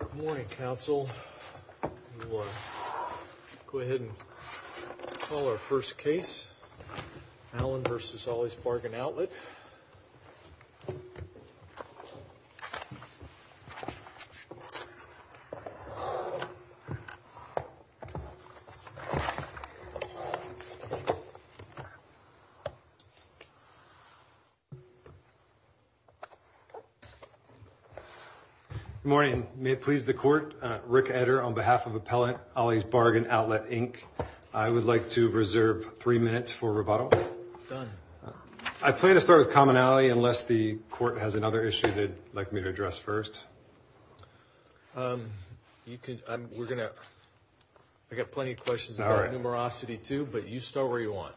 Good morning, Council. We'll go ahead and call our first case, Allen v. Ollie's Bargain Outlet. Good morning. May it please the Court, Rick Eder, on behalf of Appellant Ollie's Bargain Outlet, Inc., I would like to reserve three minutes for rebuttal. Done. I plan to start with commonality unless the Court has another issue they'd like me to address first. I've got plenty of questions about numerosity, too, but you start where you want.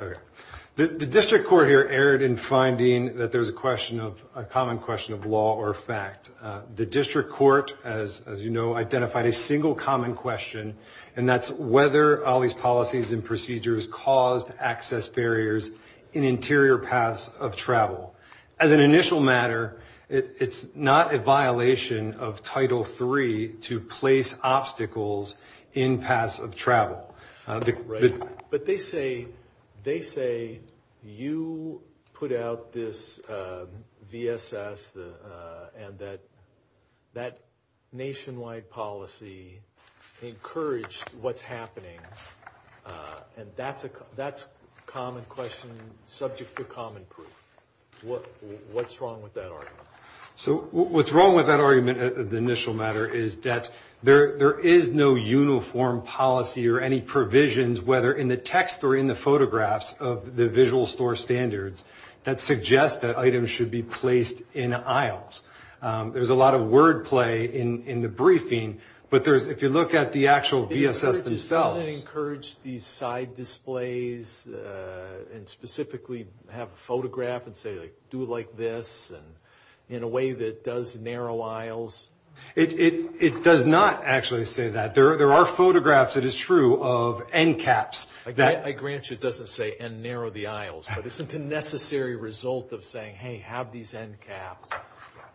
The District Court here erred in finding that there's a common question of law or fact. The District Court, as you know, identified a single common question, and that's whether Ollie's policies and procedures caused access barriers in interior paths of travel. As an initial matter, it's not a violation of Title III to place obstacles in paths of travel. But they say you put out this VSS and that that nationwide policy encouraged what's happening, and that's a common question subject to common proof. What's wrong with that argument? What's wrong with that argument, the initial matter, is that there is no uniform policy or any provisions, whether in the text or in the photographs of the visual store standards, that suggest that items should be placed in aisles. There's a lot of wordplay in the briefing, but if you look at the actual VSS themselves… …and specifically have a photograph and say, like, do it like this, and in a way that does narrow aisles… It does not actually say that. There are photographs, it is true, of end caps that… I grant you it doesn't say, and narrow the aisles, but it's a necessary result of saying, hey, have these end caps,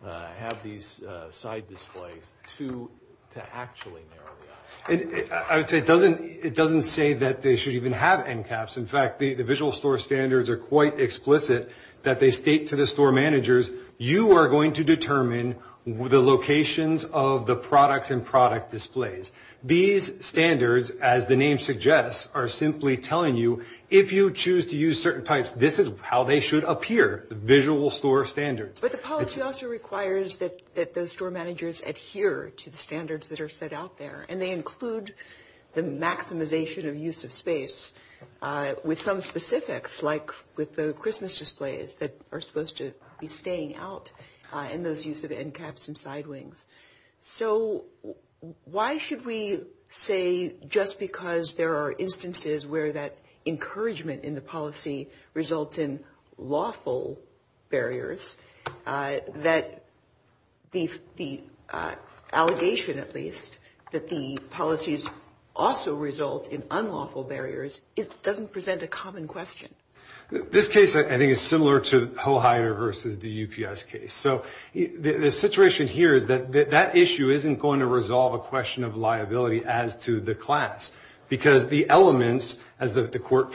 have these side displays, to actually narrow the aisles. I would say it doesn't say that they should even have end caps. In fact, the visual store standards are quite explicit that they state to the store managers, you are going to determine the locations of the products and product displays. These standards, as the name suggests, are simply telling you, if you choose to use certain types, this is how they should appear, the visual store standards. But the policy also requires that those store managers adhere to the standards that are set out there, and they include the maximization of use of space with some specifics, like with the Christmas displays that are supposed to be staying out, and those use of end caps and side wings. So, why should we say, just because there are instances where that encouragement in the policy results in lawful barriers, that the allegation, at least, that the policies also result in unlawful barriers, doesn't present a common question? This case, I think, is similar to Hoheider versus the UPS case. So, the situation here is that that issue isn't going to resolve a question of liability as to the class, because the elements, as the court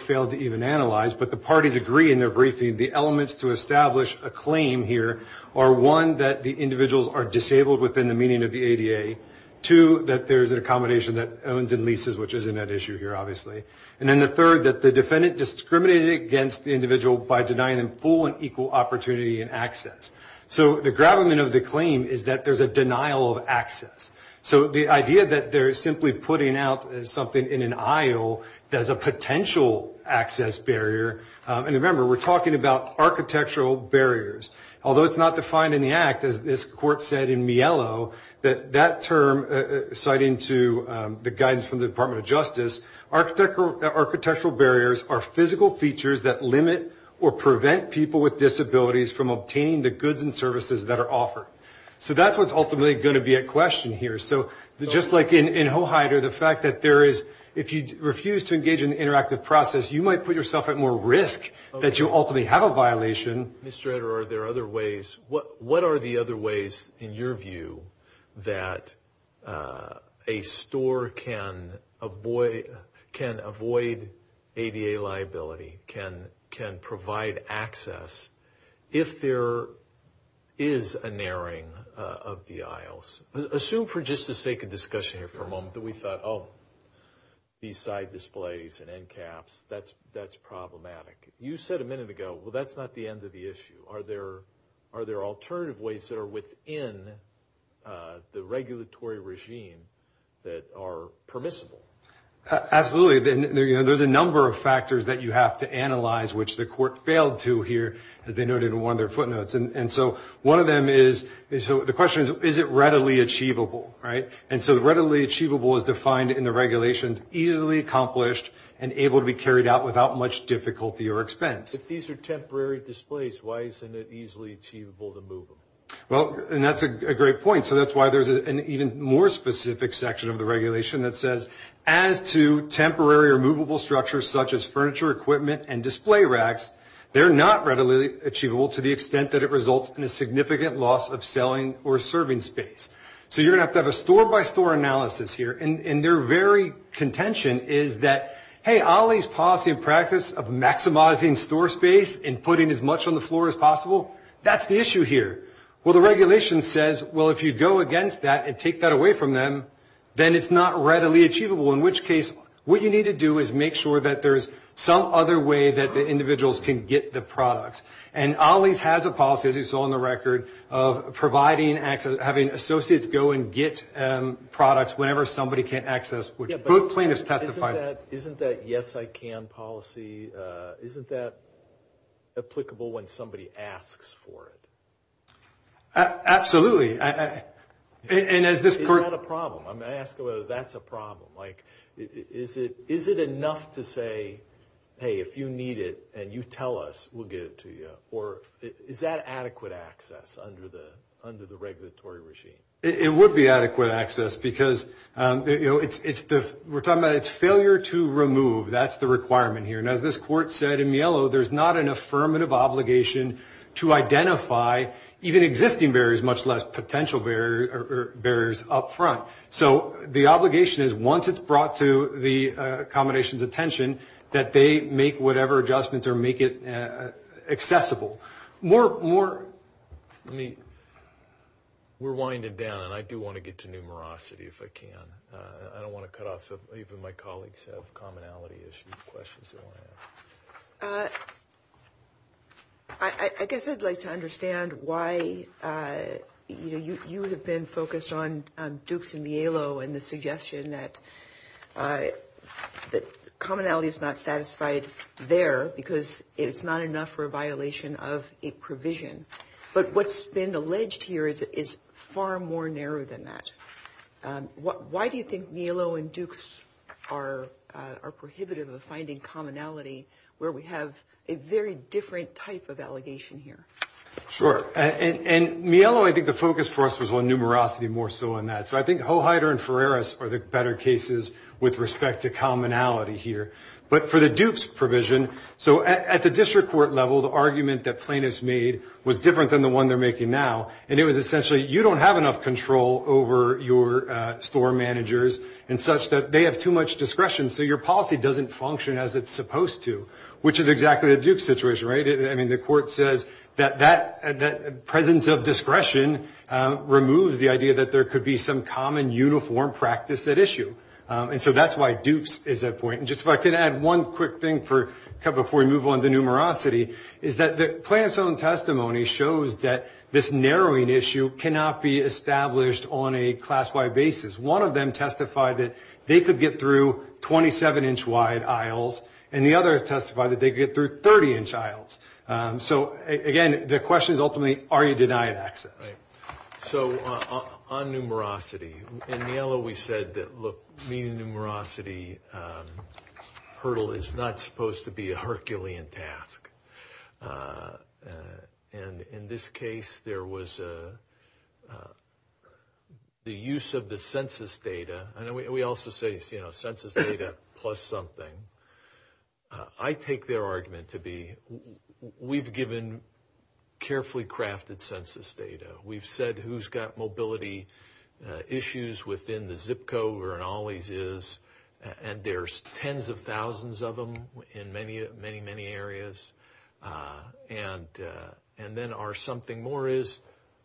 failed to even analyze, but the parties agree in their briefing, the elements to establish a claim here are, one, that the individuals are disabled within the meaning of the ADA, two, that there is an accommodation that owns and leases, which isn't an issue here, obviously, and then the third, that the defendant discriminated against the individual by denying them full and equal opportunity and access. So, the gravamen of the claim is that there's a denial of access. So, the idea that they're simply putting out something in an aisle that is a potential access barrier, and remember, we're talking about architectural barriers. Although it's not defined in the act, as this court said in Mielo, that that term, citing to the guidance from the Department of Justice, architectural barriers are physical features that limit or prevent people with disabilities from obtaining the goods and services that are offered. So, that's what's ultimately going to be a question here. So, just like in Hoheider, the fact that there is, if you refuse to engage in the interactive process, you might put yourself at more risk that you'll ultimately have a violation. Mr. Edder, are there other ways, what are the other ways, in your view, that a store can avoid ADA liability, can provide access, if there is a narrowing of the aisles? Assume for just the sake of discussion here for a moment that we thought, oh, these side displays and end caps, that's problematic. You said a minute ago, well, that's not the end of the issue. Are there alternative ways that are within the regulatory regime that are permissible? Absolutely. There's a number of factors that you have to analyze, which the court failed to here, as they noted in one of their footnotes. And so, one of them is, so the question is, is it readily achievable, right? And so, readily achievable is defined in the regulations, easily accomplished, and able to be carried out without much difficulty or expense. If these are temporary displays, why isn't it easily achievable to move them? Well, and that's a great point. So, that's why there's an even more specific section of the regulation that says, as to temporary or movable structures, such as furniture, equipment, and display racks, they're not readily achievable to the extent that it results in a significant loss of selling or serving space. So, you're going to have to have a store-by-store analysis here. And their very contention is that, hey, OLLI's policy and practice of maximizing store space and putting as much on the floor as possible, that's the issue here. Well, the regulation says, well, if you go against that and take that away from them, then it's not readily achievable, in which case what you need to do is make sure that there's some other way that the individuals can get the products. And OLLI's has a policy, as you saw in the record, of providing access, having associates go and get products whenever somebody can't access, which both plaintiffs testified. Isn't that yes, I can policy, isn't that applicable when somebody asks for it? Absolutely. And is this correct? Is that a problem? I mean, I ask whether that's a problem. Is it enough to say, hey, if you need it and you tell us, we'll get it to you? Or is that adequate access under the regulatory regime? It would be adequate access because, you know, we're talking about it's failure to remove. That's the requirement here. And as this court said in Mielo, there's not an affirmative obligation to identify even existing barriers, much less potential barriers up front. So the obligation is once it's brought to the accommodation's attention, that they make whatever adjustments or make it accessible. More, let me, we're winding down, and I do want to get to numerosity if I can. I don't want to cut off even my colleagues have commonality issues, questions they want to ask. I guess I'd like to understand why, you know, you have been focused on Dukes and Mielo and the suggestion that commonality is not satisfied there because it's not enough for a violation of a provision. But what's been alleged here is far more narrow than that. Why do you think Mielo and Dukes are prohibitive of finding commonality, where we have a very different type of allegation here? Sure. And Mielo, I think the focus for us was on numerosity more so than that. So I think Hoheider and Ferreris are the better cases with respect to commonality here. But for the Dukes provision, so at the district court level, the argument that plaintiffs made was different than the one they're making now, and it was essentially you don't have enough control over your store managers and such, that they have too much discretion, so your policy doesn't function as it's supposed to, which is exactly the Dukes situation, right? I mean, the court says that that presence of discretion removes the idea that there could be some common, uniform practice at issue. And so that's why Dukes is at point. And just if I could add one quick thing before we move on to numerosity, is that the plaintiff's own testimony shows that this narrowing issue cannot be established on a class-wide basis. One of them testified that they could get through 27-inch-wide aisles, and the other testified that they could get through 30-inch aisles. So, again, the question is ultimately are you denied access? Right. So on numerosity, in Mielo we said that, look, meeting the numerosity hurdle is not supposed to be a Herculean task. And in this case, there was the use of the census data. And we also say, you know, census data plus something. I take their argument to be we've given carefully crafted census data. We've said who's got mobility issues within the zip code where an Ollie's is. And there's tens of thousands of them in many, many areas. And then our something more is,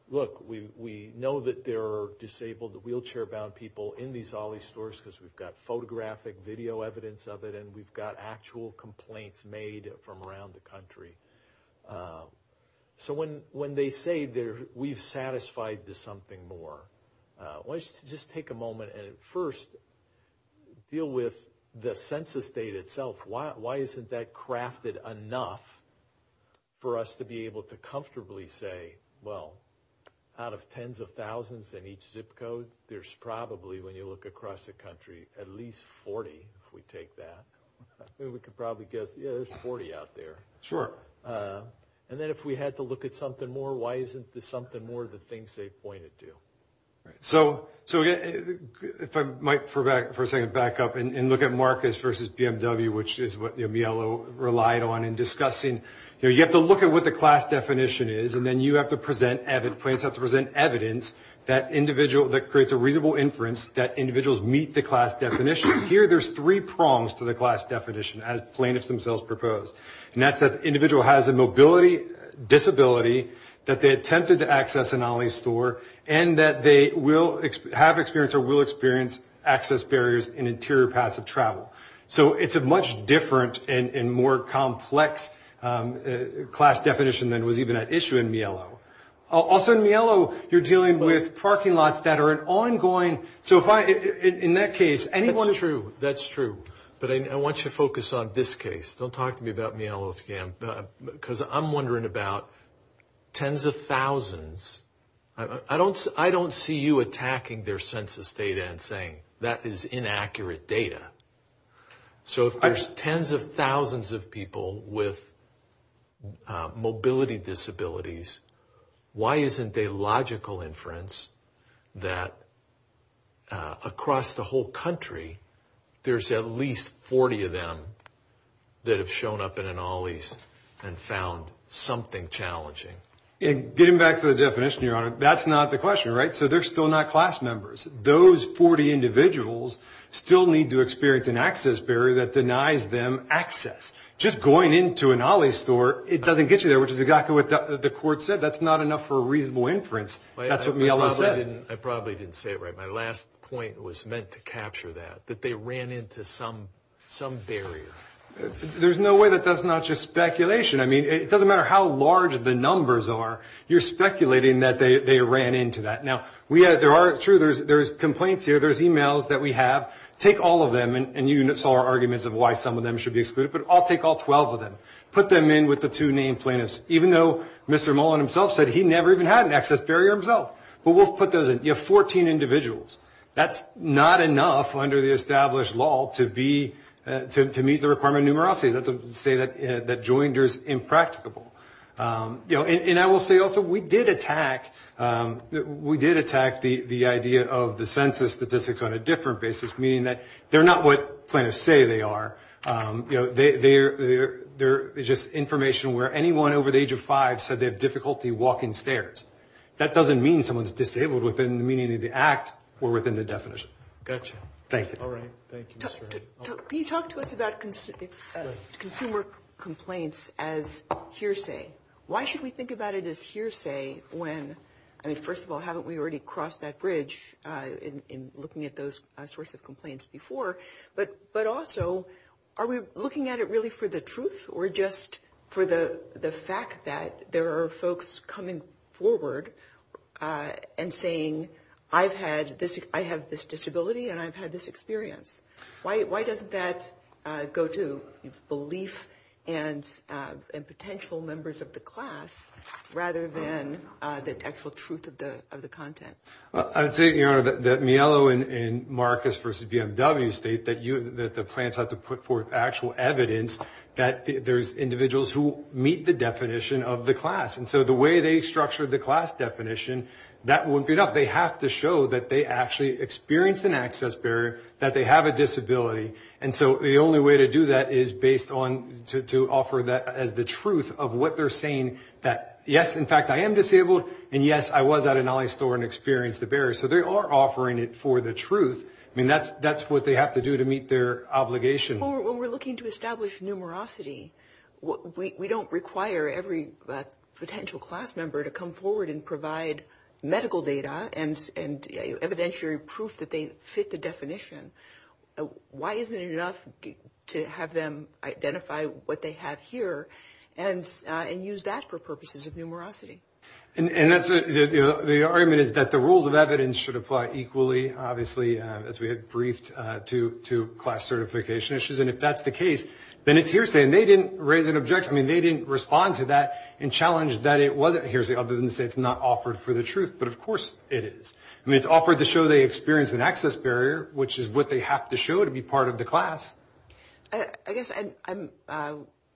look, we know that there are disabled, wheelchair-bound people in these Ollie's stores because we've got photographic video evidence of it, and we've got actual complaints made from around the country. So when they say we've satisfied the something more, why don't you just take a moment and first deal with the census data itself. Why isn't that crafted enough for us to be able to comfortably say, well, out of tens of thousands in each zip code, there's probably, when you look across the country, at least 40, if we take that. We could probably guess, yeah, there's 40 out there. Sure. And then if we had to look at something more, why isn't the something more the things they pointed to? So if I might, for a second, back up and look at Marcus versus BMW, which is what Mielo relied on in discussing. You have to look at what the class definition is, and then you have to present evidence, plaintiffs have to present evidence that creates a reasonable inference that individuals meet the class definition. Here, there's three prongs to the class definition, as plaintiffs themselves proposed. And that's that the individual has a mobility disability, that they attempted to access an OLLI store, and that they will have experience or will experience access barriers in interior passive travel. So it's a much different and more complex class definition than was even at issue in Mielo. Also, in Mielo, you're dealing with parking lots that are an ongoing. So in that case, anyone. That's true. That's true. But I want you to focus on this case. Don't talk to me about Mielo again, because I'm wondering about tens of thousands. I don't see you attacking their census data and saying that is inaccurate data. So if there's tens of thousands of people with mobility disabilities, why isn't a logical inference that across the whole country, there's at least 40 of them that have shown up in an OLLI and found something challenging? Getting back to the definition, Your Honor, that's not the question, right? So they're still not class members. Those 40 individuals still need to experience an access barrier that denies them access. Just going into an OLLI store, it doesn't get you there, which is exactly what the court said. That's not enough for a reasonable inference. That's what Mielo said. I probably didn't say it right. My last point was meant to capture that, that they ran into some barrier. There's no way that that's not just speculation. I mean, it doesn't matter how large the numbers are. You're speculating that they ran into that. Now, there are complaints here. There's e-mails that we have. Take all of them, and you saw our arguments of why some of them should be excluded. But I'll take all 12 of them, put them in with the two named plaintiffs, even though Mr. Mullen himself said he never even had an access barrier himself. But we'll put those in. You have 14 individuals. That's not enough under the established law to meet the requirement of numerosity. That's to say that joinder is impracticable. And I will say also we did attack the idea of the census statistics on a different basis, meaning that they're not what plaintiffs say they are. You know, they're just information where anyone over the age of five said they have difficulty walking stairs. That doesn't mean someone's disabled within the meaning of the act or within the definition. Gotcha. Thank you. All right. Thank you, Mr. Mullen. Can you talk to us about consumer complaints as hearsay? Why should we think about it as hearsay when, I mean, first of all, haven't we already crossed that bridge in looking at those sorts of complaints before? But also, are we looking at it really for the truth or just for the fact that there are folks coming forward and saying I have this disability and I've had this experience? Why doesn't that go to belief and potential members of the class rather than the actual truth of the content? I would say, Your Honor, that Miele and Marcus versus BMW state that the plaintiffs have to put forth actual evidence that there's individuals who meet the definition of the class. And so the way they structured the class definition, that wouldn't be enough. They have to show that they actually experienced an access barrier, that they have a disability. And so the only way to do that is based on to offer that as the truth of what they're saying, that yes, in fact, I am disabled, and yes, I was at an Ali store and experienced the barrier. So they are offering it for the truth. I mean, that's what they have to do to meet their obligation. When we're looking to establish numerosity, we don't require every potential class member to come forward and provide medical data and evidentiary proof that they fit the definition. Why isn't it enough to have them identify what they have here and use that for purposes of numerosity? And the argument is that the rules of evidence should apply equally, obviously, as we had briefed, to class certification issues. And if that's the case, then it's hearsay. And they didn't raise an objection. I mean, they didn't respond to that and challenge that it wasn't hearsay other than to say it's not offered for the truth. But, of course, it is. I mean, it's offered to show they experienced an access barrier, which is what they have to show to be part of the class. I guess I'm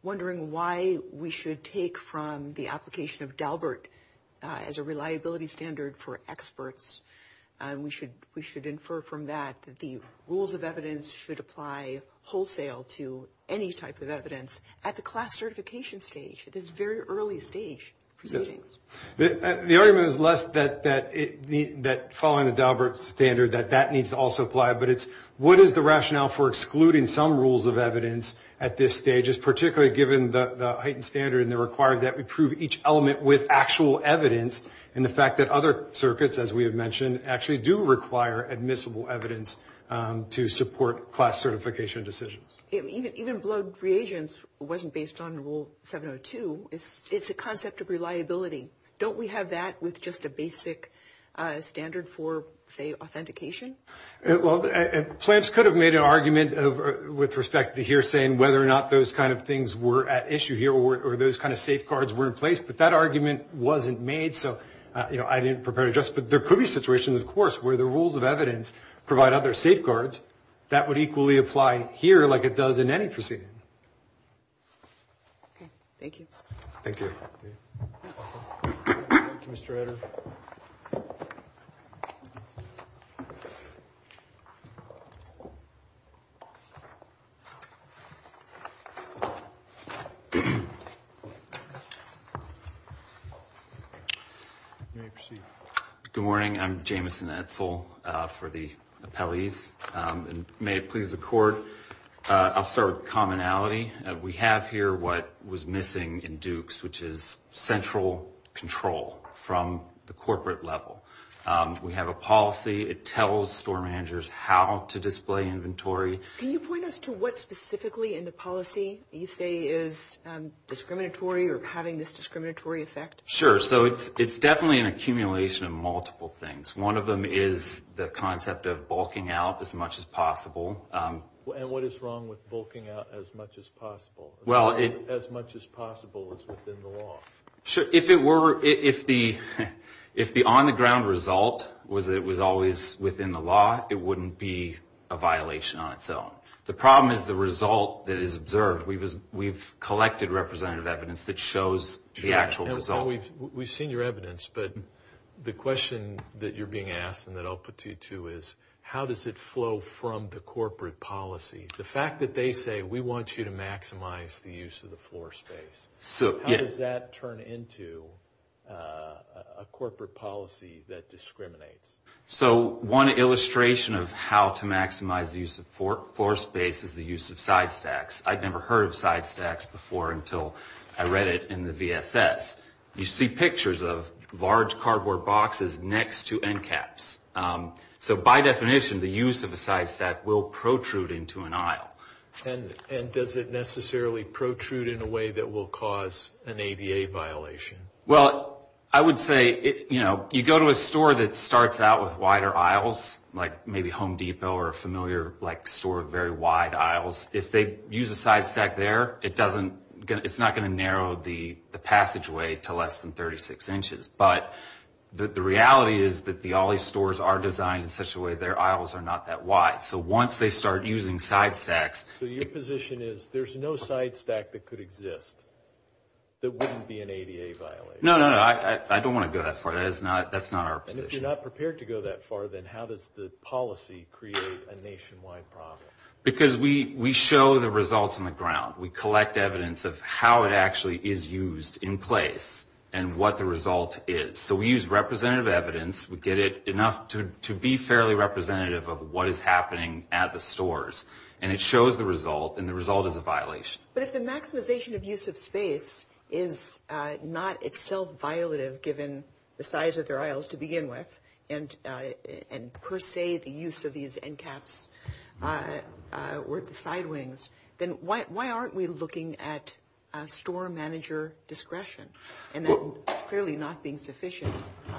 wondering why we should take from the application of DALBERT as a reliability standard for experts. We should infer from that that the rules of evidence should apply wholesale to any type of evidence at the class certification stage, at this very early stage proceedings. The argument is less that following the DALBERT standard that that needs to also apply, but it's what is the rationale for excluding some rules of evidence at this stage, particularly given the heightened standard and the requirement that we prove each element with actual evidence and the fact that other circuits, as we have mentioned, actually do require admissible evidence to support class certification decisions. Even blood reagents wasn't based on Rule 702. It's a concept of reliability. Don't we have that with just a basic standard for, say, authentication? Well, plants could have made an argument with respect to hearsay and whether or not those kind of things were at issue here or those kind of safeguards were in place, but that argument wasn't made. So, you know, I didn't prepare to address it. But there could be situations, of course, where the rules of evidence provide other safeguards. That would equally apply here like it does in any proceeding. Okay. Thank you. Thank you. Thank you, Mr. Editor. Good morning. I'm Jameson Edsel for the appellees. And may it please the Court, I'll start with commonality. We have here what was missing in Dukes, which is central control from the corporate level. We have a policy. It tells store managers how to display inventory. Can you point us to what specifically in the policy you say is discriminatory or having this discriminatory effect? Sure. So it's definitely an accumulation of multiple things. One of them is the concept of bulking out as much as possible. And what is wrong with bulking out as much as possible? As much as possible is within the law. Sure. If it were, if the on-the-ground result was that it was always within the law, it wouldn't be a violation on its own. The problem is the result that is observed. We've collected representative evidence that shows the actual result. We've seen your evidence, but the question that you're being asked and that I'll put to you, too, is how does it flow from the corporate policy? The fact that they say we want you to maximize the use of the floor space, how does that turn into a corporate policy that discriminates? So one illustration of how to maximize the use of floor space is the use of side stacks. I'd never heard of side stacks before until I read it in the VSS. You see pictures of large cardboard boxes next to end caps. So by definition, the use of a side stack will protrude into an aisle. And does it necessarily protrude in a way that will cause an ADA violation? Well, I would say, you know, you go to a store that starts out with wider aisles, like maybe Home Depot or a familiar store with very wide aisles. If they use a side stack there, it's not going to narrow the passageway to less than 36 inches. But the reality is that all these stores are designed in such a way that their aisles are not that wide. So once they start using side stacks... So your position is there's no side stack that could exist that wouldn't be an ADA violation? No, no, no. I don't want to go that far. That's not our position. And if you're not prepared to go that far, then how does the policy create a nationwide problem? Because we show the results on the ground. We collect evidence of how it actually is used in place and what the result is. So we use representative evidence. We get it enough to be fairly representative of what is happening at the stores. And it shows the result, and the result is a violation. But if the maximization of use of space is not itself violative given the size of their aisles to begin with, and per se the use of these end caps were at the side wings, then why aren't we looking at store manager discretion and that clearly not being sufficient?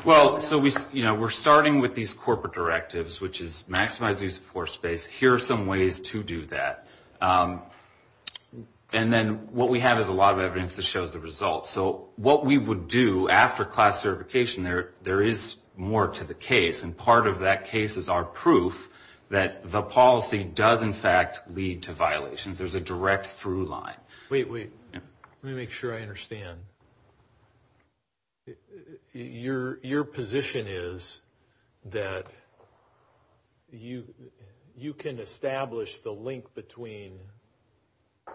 Well, so we're starting with these corporate directives, which is maximize use of force space. Here are some ways to do that. And then what we have is a lot of evidence that shows the results. So what we would do after class certification, there is more to the case, and part of that case is our proof that the policy does in fact lead to violations. There's a direct through line. Wait, wait. Let me make sure I understand. Your position is that you can establish the link between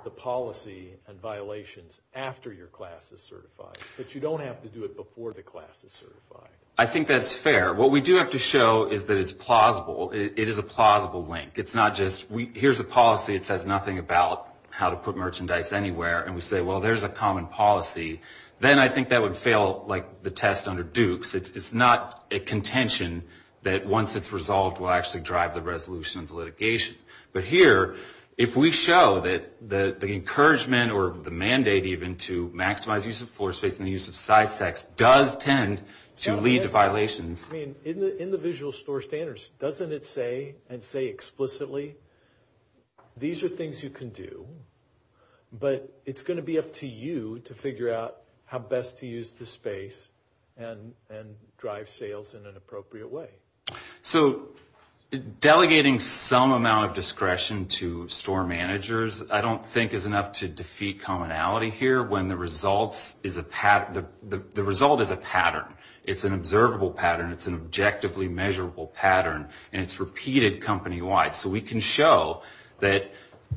the policy and violations after your class is certified, but you don't have to do it before the class is certified. I think that's fair. What we do have to show is that it's plausible. It is a plausible link. It's not just here's a policy that says nothing about how to put merchandise anywhere, and we say, well, there's a common policy. Then I think that would fail like the test under Dukes. It's not a contention that once it's resolved will actually drive the resolution of the litigation. But here, if we show that the encouragement or the mandate even to maximize use of force space and the use of side stacks does tend to lead to violations. I mean, in the visual store standards, doesn't it say and say explicitly, these are things you can do, but it's going to be up to you to figure out how best to use the space and drive sales in an appropriate way. So delegating some amount of discretion to store managers I don't think is enough to defeat commonality here when the result is a pattern. It's an observable pattern. It's an objectively measurable pattern, and it's repeated company-wide. So we can show that,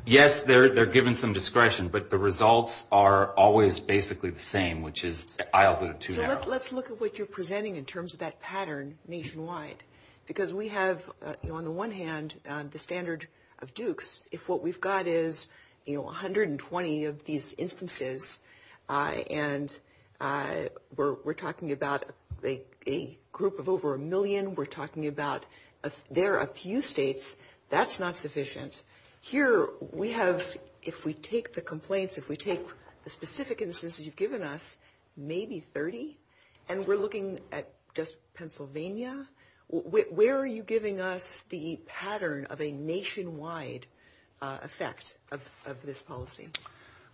yes, they're given some discretion, but the results are always basically the same, which is aisles of the two now. So let's look at what you're presenting in terms of that pattern nationwide. Because we have, on the one hand, the standard of Dukes. If what we've got is 120 of these instances, and we're talking about a group of over a million, we're talking about there are a few states, that's not sufficient. Here we have, if we take the complaints, if we take the specific instances you've given us, maybe 30, and we're looking at just Pennsylvania, where are you giving us the pattern of a nationwide effect of this policy?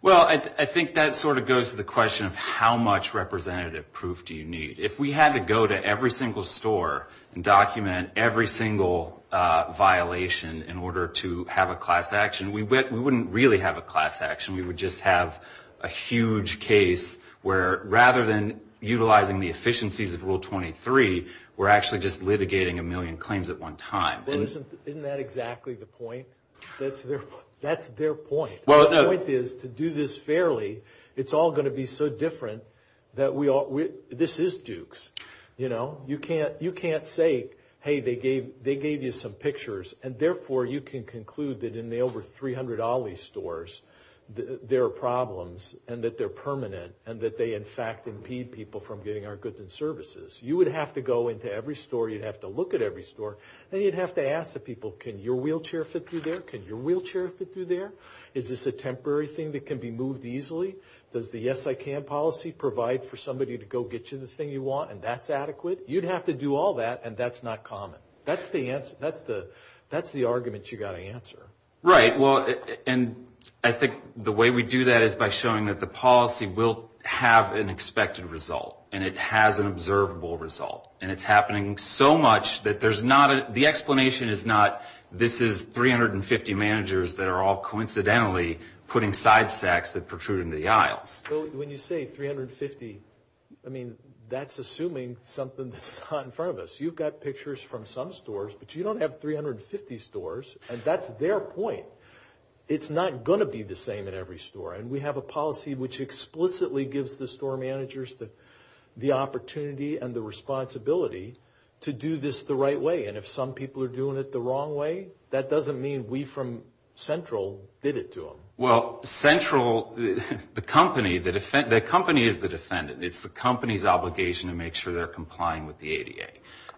Well, I think that sort of goes to the question of how much representative proof do you need. If we had to go to every single store and document every single violation in order to have a class action, we wouldn't really have a class action. We would just have a huge case where, rather than utilizing the efficiencies of Rule 23, we're actually just litigating a million claims at one time. Isn't that exactly the point? That's their point. The point is, to do this fairly, it's all going to be so different. This is Dukes. You can't say, hey, they gave you some pictures, and therefore you can conclude that in the over 300 Ali stores there are problems, and that they're permanent, and that they, in fact, impede people from getting our goods and services. You would have to go into every store, you'd have to look at every store, and you'd have to ask the people, can your wheelchair fit through there? Can your wheelchair fit through there? Is this a temporary thing that can be moved easily? Does the yes, I can policy provide for somebody to go get you the thing you want, and that's adequate? You'd have to do all that, and that's not common. That's the argument you've got to answer. Right. Well, and I think the way we do that is by showing that the policy will have an expected result, and it has an observable result, and it's happening so much that there's not a, the explanation is not this is 350 managers that are all coincidentally putting side sacks that protrude into the aisles. When you say 350, I mean, that's assuming something that's not in front of us. You've got pictures from some stores, but you don't have 350 stores, and that's their point. It's not going to be the same in every store, and we have a policy which explicitly gives the store managers the opportunity and the responsibility to do this the right way, and if some people are doing it the wrong way, that doesn't mean we from Central did it to them. Well, Central, the company, the company is the defendant. It's the company's obligation to make sure they're complying with the ADA,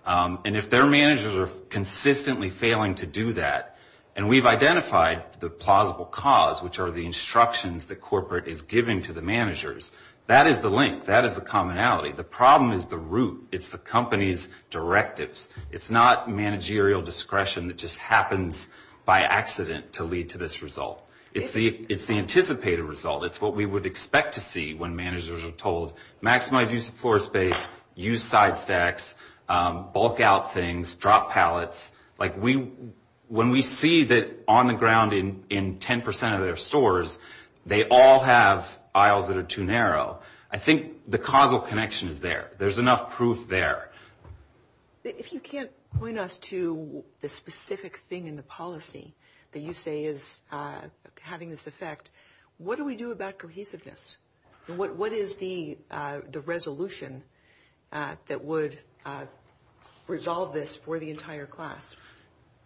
and if their managers are consistently failing to do that, and we've identified the plausible cause, which are the instructions that corporate is giving to the managers, that is the link. That is the commonality. The problem is the root. It's the company's directives. It's not managerial discretion that just happens by accident to lead to this result. It's the anticipated result. It's what we would expect to see when managers are told maximize use of floor space, use side stacks, bulk out things, drop pallets. Like when we see that on the ground in 10% of their stores, they all have aisles that are too narrow. I think the causal connection is there. There's enough proof there. If you can't point us to the specific thing in the policy that you say is having this effect, what do we do about cohesiveness? What is the resolution that would resolve this for the entire class?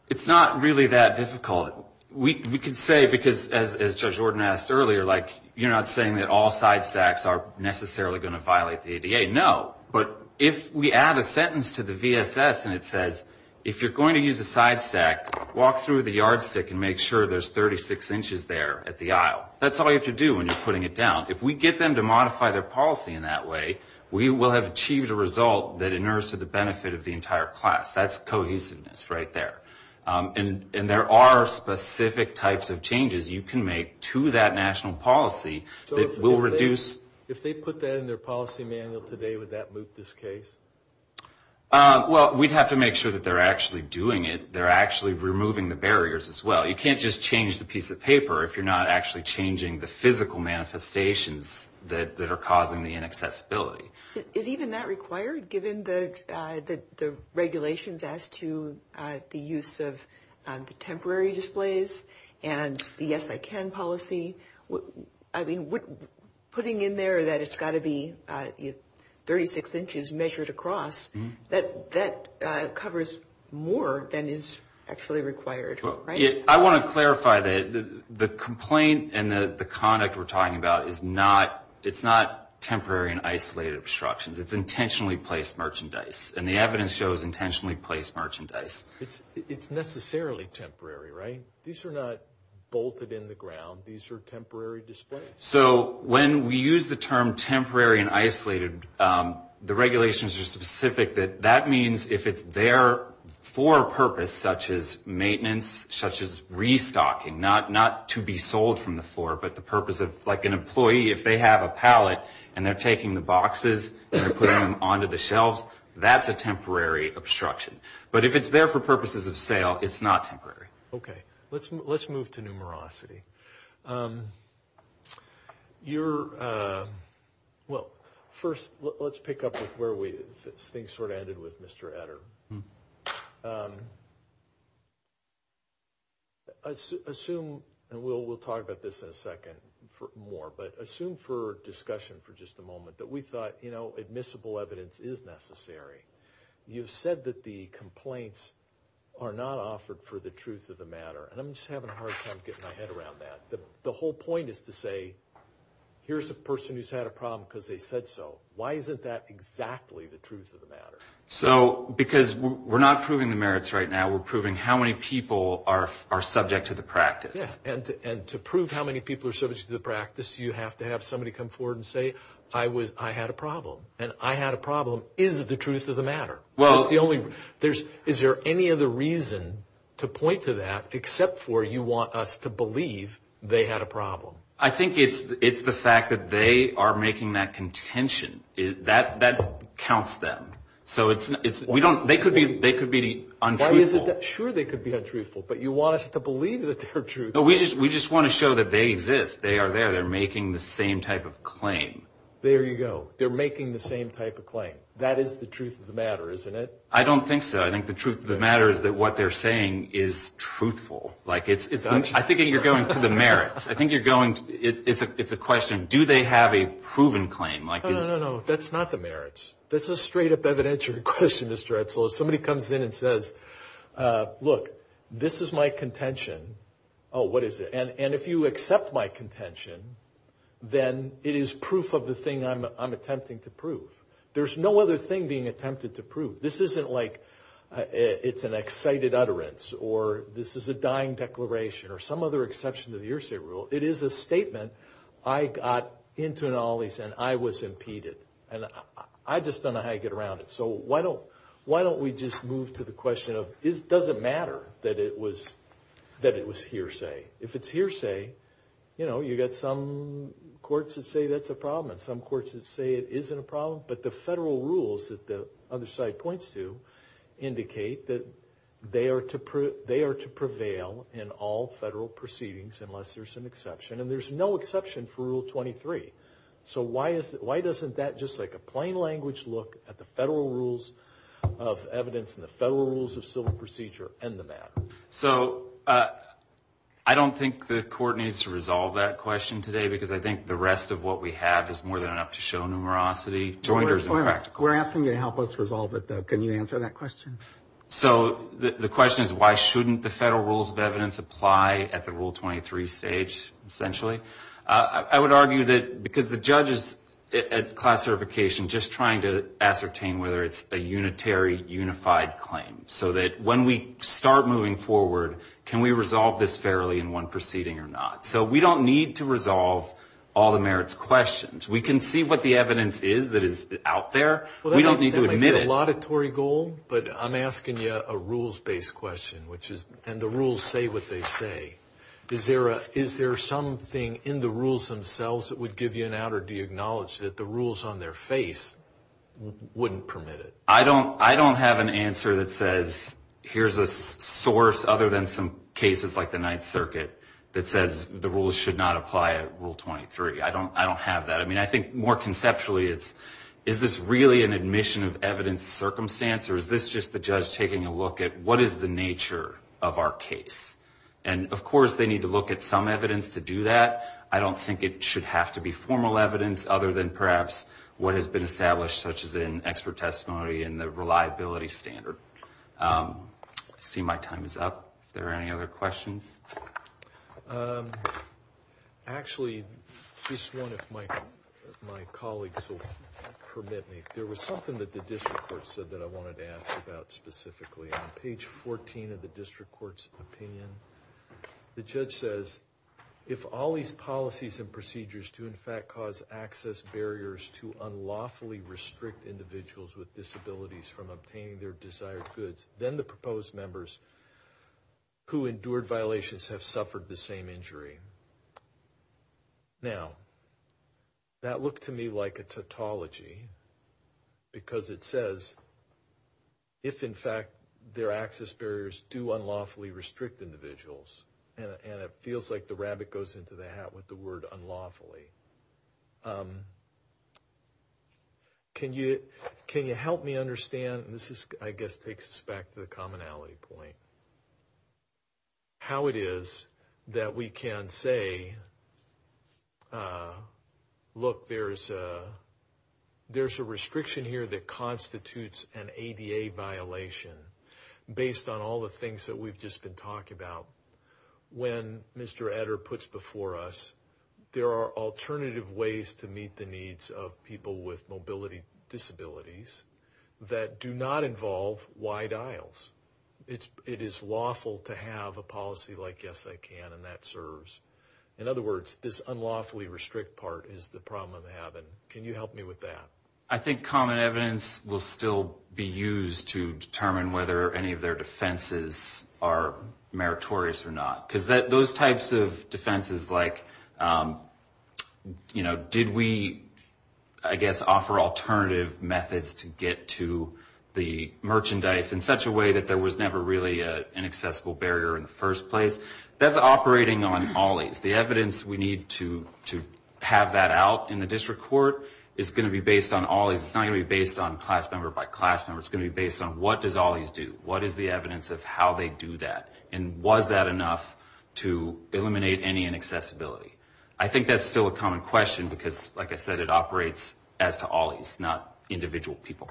It's not really that difficult. We could say, because as Judge Ordon asked earlier, like you're not saying that all side stacks are necessarily going to violate the ADA. Okay, no, but if we add a sentence to the VSS and it says, if you're going to use a side stack, walk through the yardstick and make sure there's 36 inches there at the aisle. That's all you have to do when you're putting it down. If we get them to modify their policy in that way, we will have achieved a result that inures to the benefit of the entire class. That's cohesiveness right there. And there are specific types of changes you can make to that national policy that will reduce. If they put that in their policy manual today, would that move this case? Well, we'd have to make sure that they're actually doing it. They're actually removing the barriers as well. You can't just change the piece of paper if you're not actually changing the physical manifestations that are causing the inaccessibility. Is even that required given the regulations as to the use of the temporary displays and the yes I can policy? I mean, putting in there that it's got to be 36 inches measured across, that covers more than is actually required, right? I want to clarify that the complaint and the conduct we're talking about is not temporary and isolated obstructions. It's intentionally placed merchandise. And the evidence shows intentionally placed merchandise. It's necessarily temporary, right? These are not bolted in the ground. These are temporary displays. So when we use the term temporary and isolated, the regulations are specific that that means if it's there for a purpose such as maintenance, such as restocking, not to be sold from the floor, but the purpose of like an employee, if they have a pallet and they're taking the boxes and they're putting them onto the shelves, that's a temporary obstruction. But if it's there for purposes of sale, it's not temporary. Okay. Let's move to numerosity. Well, first, let's pick up with where things sort of ended with Mr. Etter. Assume, and we'll talk about this in a second more, but assume for discussion for just a moment that we thought admissible evidence is necessary. You've said that the complaints are not offered for the truth of the matter. And I'm just having a hard time getting my head around that. The whole point is to say, here's a person who's had a problem because they said so. Why isn't that exactly the truth of the matter? So, because we're not proving the merits right now. We're proving how many people are subject to the practice. Yeah. And to prove how many people are subject to the practice, you have to have somebody come forward and say, I had a problem. And I had a problem. Is it the truth of the matter? Is there any other reason to point to that except for you want us to believe they had a problem? I think it's the fact that they are making that contention. That counts them. So, they could be untruthful. Sure, they could be untruthful. But you want us to believe that they're true. No, we just want to show that they exist. They are there. They're making the same type of claim. There you go. They're making the same type of claim. That is the truth of the matter, isn't it? I don't think so. I think the truth of the matter is that what they're saying is truthful. I think you're going to the merits. It's a question, do they have a proven claim? No, no, no. That's not the merits. That's a straight-up evidentiary question, Mr. Edsel. If somebody comes in and says, look, this is my contention. Oh, what is it? And if you accept my contention, then it is proof of the thing I'm attempting to prove. There's no other thing being attempted to prove. This isn't like it's an excited utterance or this is a dying declaration or some other exception to the hearsay rule. It is a statement, I got into an alleys and I was impeded. And I just don't know how to get around it. So, why don't we just move to the question of, does it matter that it was hearsay? If it's hearsay, you know, you've got some courts that say that's a problem and some courts that say it isn't a problem. But the federal rules that the other side points to indicate that they are to prevail in all federal proceedings unless there's an exception. And there's no exception for Rule 23. So, why doesn't that, just like a plain language look, at the federal rules of evidence and the federal rules of civil procedure end the matter? So, I don't think the court needs to resolve that question today because I think the rest of what we have is more than enough to show numerosity. We're asking you to help us resolve it though. Can you answer that question? So, the question is why shouldn't the federal rules of evidence apply at the Rule 23 stage essentially? I would argue that because the judge is at classification just trying to ascertain whether it's a unitary, unified claim. So, that when we start moving forward, can we resolve this fairly in one proceeding or not? So, we don't need to resolve all the merits questions. We can see what the evidence is that is out there. We don't need to admit it. Well, that might be a laudatory goal, but I'm asking you a rules-based question, and the rules say what they say. Is there something in the rules themselves that would give you an outer deacknowledge that the rules on their face wouldn't permit it? I don't have an answer that says here's a source other than some cases like the Ninth Circuit that says the rules should not apply at Rule 23. I don't have that. I mean, I think more conceptually it's is this really an admission of evidence circumstance or is this just the judge taking a look at what is the nature of our case? And, of course, they need to look at some evidence to do that. I don't think it should have to be formal evidence other than perhaps what has been established, such as in expert testimony and the reliability standard. I see my time is up. Are there any other questions? Actually, just one, if my colleagues will permit me. There was something that the district court said that I wanted to ask about specifically. On page 14 of the district court's opinion, the judge says, if all these policies and procedures do, in fact, cause access barriers to unlawfully restrict individuals with disabilities from obtaining their desired goods, then the proposed members who endured violations have suffered the same injury. Now, that looked to me like a tautology because it says, if, in fact, their access barriers do unlawfully restrict individuals and it feels like the rabbit goes into the hat with the word unlawfully. Can you help me understand, and this, I guess, takes us back to the commonality point, how it is that we can say, look, there's a restriction here that constitutes an ADA violation based on all the things that we've just been talking about. When Mr. Eder puts before us, there are alternative ways to meet the needs of people with mobility disabilities that do not involve wide aisles. It is lawful to have a policy like, yes, I can, and that serves. In other words, this unlawfully restrict part is the problem I'm having. Can you help me with that? I think common evidence will still be used to determine whether any of their defenses are meritorious or not because those types of defenses like, you know, did we, I guess, offer alternative methods to get to the merchandise in such a way that there was never really an accessible barrier in the first place? That's operating on all aids. The evidence we need to have that out in the district court is going to be based on all aids. It's not going to be based on class member by class member. It's going to be based on what does all aids do? What is the evidence of how they do that? And was that enough to eliminate any inaccessibility? I think that's still a common question because, like I said, it operates as to all aids, not individual people.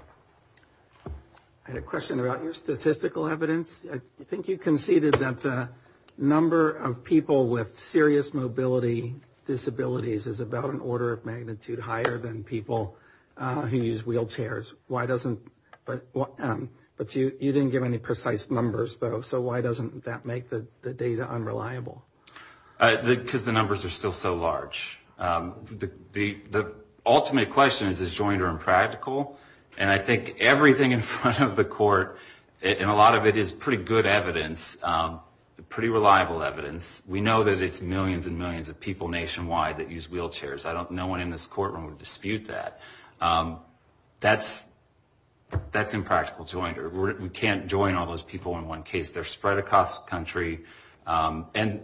I had a question about your statistical evidence. I think you conceded that the number of people with serious mobility disabilities is about an order of magnitude higher than people who use wheelchairs. Why doesn't, but you didn't give any precise numbers, though, so why doesn't that make the data unreliable? Because the numbers are still so large. The ultimate question is, is joint or impractical? And I think everything in front of the court, and a lot of it is pretty good evidence, pretty reliable evidence. We know that it's millions and millions of people nationwide that use wheelchairs. No one in this courtroom would dispute that. That's impractical joint. We can't join all those people in one case. They're spread across the country. And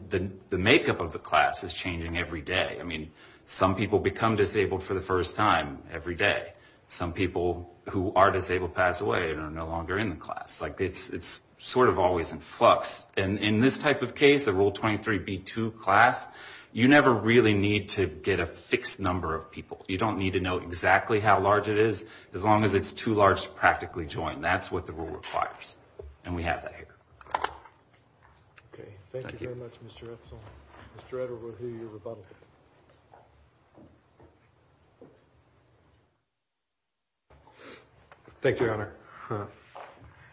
the makeup of the class is changing every day. I mean, some people become disabled for the first time every day. Some people who are disabled pass away and are no longer in the class. It's sort of always in flux. And in this type of case, a Rule 23b-2 class, you never really need to get a fixed number of people. You don't need to know exactly how large it is, as long as it's too large to practically join. That's what the rule requires, and we have that here. Okay, thank you very much, Mr. Edsel. Mr. Edsel, we'll hear your rebuttal. Thank you, Your Honor.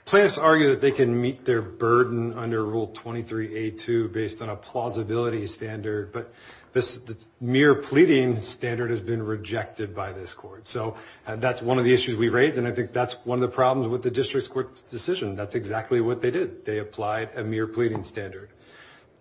Plaintiffs argue that they can meet their burden under Rule 23a-2 based on a plausibility standard, but this mere pleading standard has been rejected by this court. So that's one of the issues we raise, and I think that's one of the problems with the district court's decision. That's exactly what they did. They applied a mere pleading standard.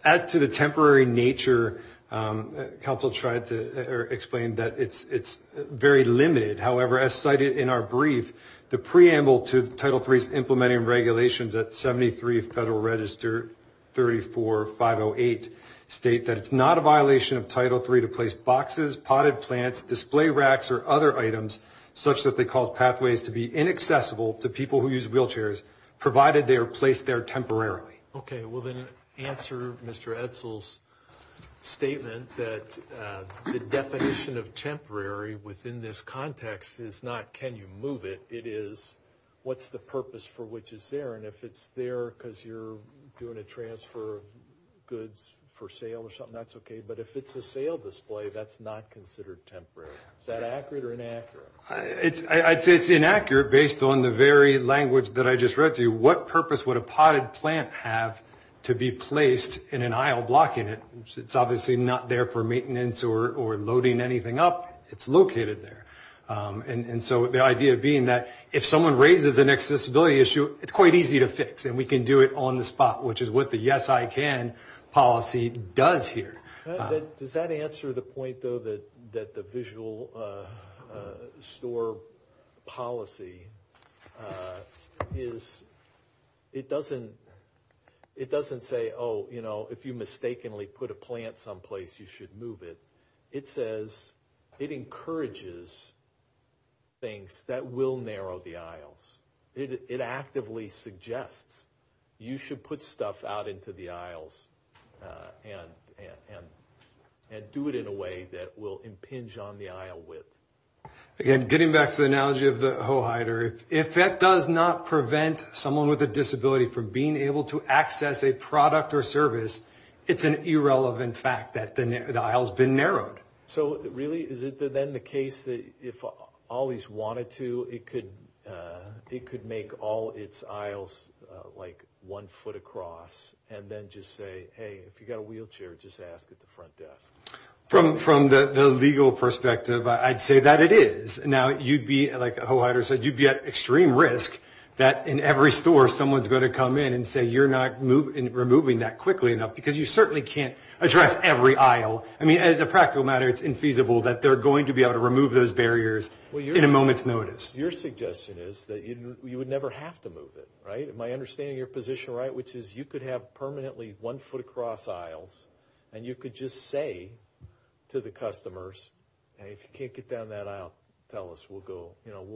As to the temporary nature, counsel tried to explain that it's very limited. However, as cited in our brief, the preamble to Title III's implementing regulations at 73 Federal Register 34-508 state that it's not a violation of Title III to place boxes, potted plants, display racks, or other items, such that they cause pathways to be inaccessible to people who use wheelchairs, provided they are placed there temporarily. Okay, well, then answer Mr. Edsel's statement that the definition of temporary within this context is not can you move it. It is what's the purpose for which it's there, and if it's there because you're doing a transfer of goods for sale or something, that's okay, but if it's a sale display, that's not considered temporary. Is that accurate or inaccurate? I'd say it's inaccurate based on the very language that I just read to you. What purpose would a potted plant have to be placed in an aisle blocking it? It's obviously not there for maintenance or loading anything up. It's located there. And so the idea being that if someone raises an accessibility issue, it's quite easy to fix, and we can do it on the spot, which is what the yes, I can policy does here. Does that answer the point, though, that the visual store policy is, it doesn't say, oh, you know, if you mistakenly put a plant someplace, you should move it. It says it encourages things that will narrow the aisles. It actively suggests you should put stuff out into the aisles and do it in a way that will impinge on the aisle width. Again, getting back to the analogy of the hoe hider, if that does not prevent someone with a disability from being able to access a product or service, it's an irrelevant fact that the aisle's been narrowed. So really, is it then the case that if all these wanted to, it could make all its aisles like one foot across and then just say, hey, if you've got a wheelchair, just ask at the front desk? From the legal perspective, I'd say that it is. Now, you'd be, like a hoe hider said, you'd be at extreme risk that in every store, someone's going to come in and say you're not removing that quickly enough because you certainly can't address every aisle. I mean, as a practical matter, it's infeasible that they're going to be able to remove those barriers in a moment's notice. Your suggestion is that you would never have to move it, right? Am I understanding your position right, which is you could have permanently one foot across aisles and you could just say to the customers, hey, if you can't get down that aisle, tell us, we'll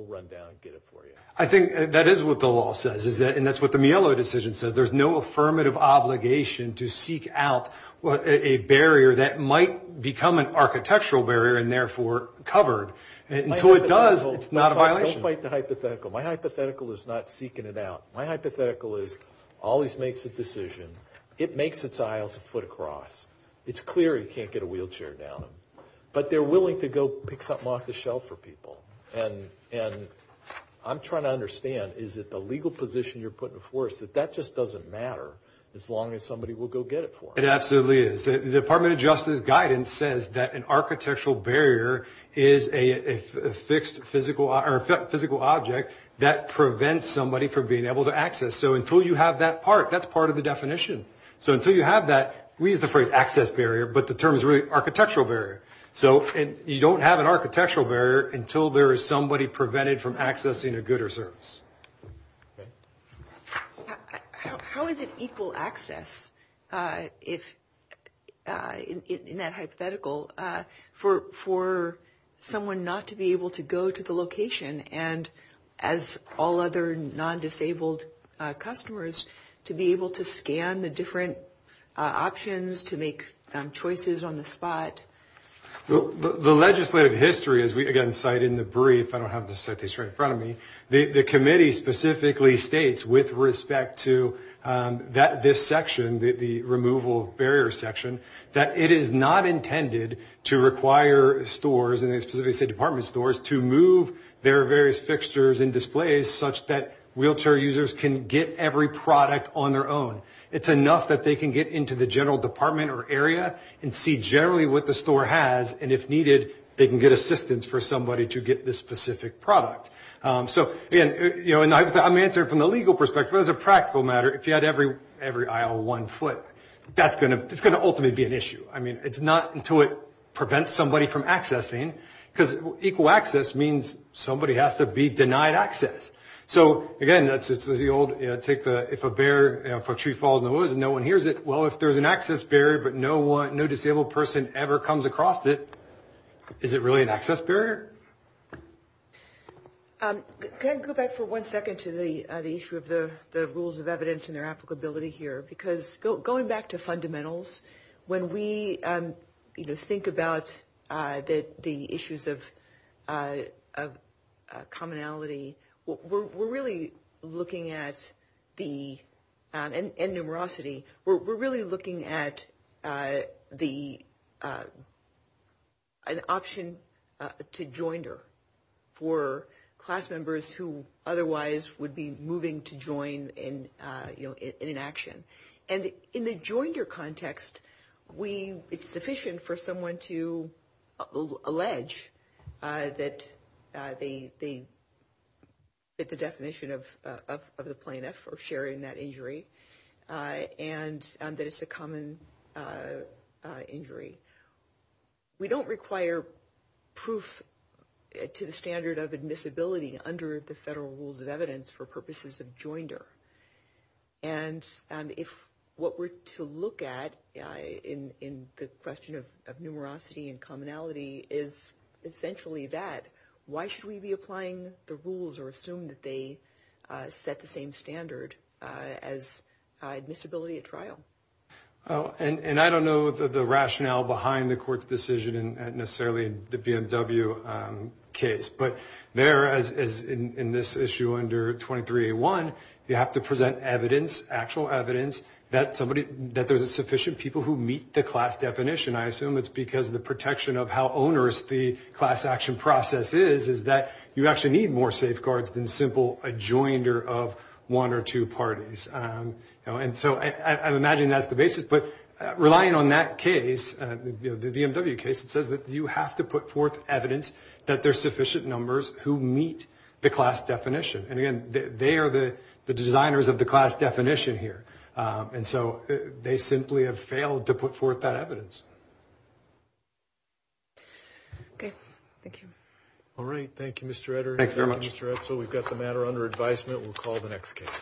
run down and get it for you. I think that is what the law says, and that's what the Mielo decision says. There's no affirmative obligation to seek out a barrier that might become an architectural barrier and therefore covered. Until it does, it's not a violation. Don't fight the hypothetical. My hypothetical is not seeking it out. My hypothetical is always makes a decision. It makes its aisles a foot across. It's clear you can't get a wheelchair down them, but they're willing to go pick something off the shelf for people. And I'm trying to understand, is it the legal position you're putting before us that that just doesn't matter as long as somebody will go get it for them? It absolutely is. The Department of Justice guidance says that an architectural barrier is a fixed physical object that prevents somebody from being able to access. So until you have that part, that's part of the definition. So until you have that, we use the phrase access barrier, but the term is really architectural barrier. So you don't have an architectural barrier until there is somebody prevented from accessing a good or service. How is it equal access in that hypothetical for someone not to be able to go to the location and as all other non-disabled customers to be able to scan the different options, to make choices on the spot? The legislative history, as we again cite in the brief, I don't have the citation right in front of me, the committee specifically states with respect to this section, the removal of barrier section, that it is not intended to require stores, and they specifically say department stores, to move their various fixtures and displays such that wheelchair users can get every product on their own. It's enough that they can get into the general department or area and see generally what the store has, and if needed, they can get assistance for somebody to get this specific product. So again, I'm answering from the legal perspective, but as a practical matter, if you had every aisle one foot, that's going to ultimately be an issue. I mean, it's not until it prevents somebody from accessing, because equal access means somebody has to be denied access. So again, if a tree falls in the woods and no one hears it, well, if there's an access barrier, but no disabled person ever comes across it, is it really an access barrier? Can I go back for one second to the issue of the rules of evidence and their applicability here? Because going back to fundamentals, when we, you know, think about the issues of commonality, we're really looking at the – and numerosity. We're really looking at the – an option to joinder for class members who otherwise would be moving to join in, you know, in an action. And in the joinder context, we – it's sufficient for someone to allege that they fit the definition of the plaintiff or share in that injury and that it's a common injury. We don't require proof to the standard of admissibility under the federal rules of evidence for purposes of joinder. And if what we're to look at in the question of numerosity and commonality is essentially that, why should we be applying the rules or assume that they set the same standard as admissibility at trial? And I don't know the rationale behind the court's decision and necessarily the BMW case. But there, as in this issue under 23A1, you have to present evidence, actual evidence, that somebody – that there's sufficient people who meet the class definition. I assume it's because of the protection of how onerous the class action process is, is that you actually need more safeguards than simple adjoinder of one or two parties. And so I imagine that's the basis. But relying on that case, the BMW case, it says that you have to put forth evidence that there's sufficient numbers who meet the class definition. And again, they are the designers of the class definition here. And so they simply have failed to put forth that evidence. Okay. Thank you. All right. Thank you, Mr. Etter. Thank you, Mr. Etzel. We've got the matter under advisement. We'll call the next case.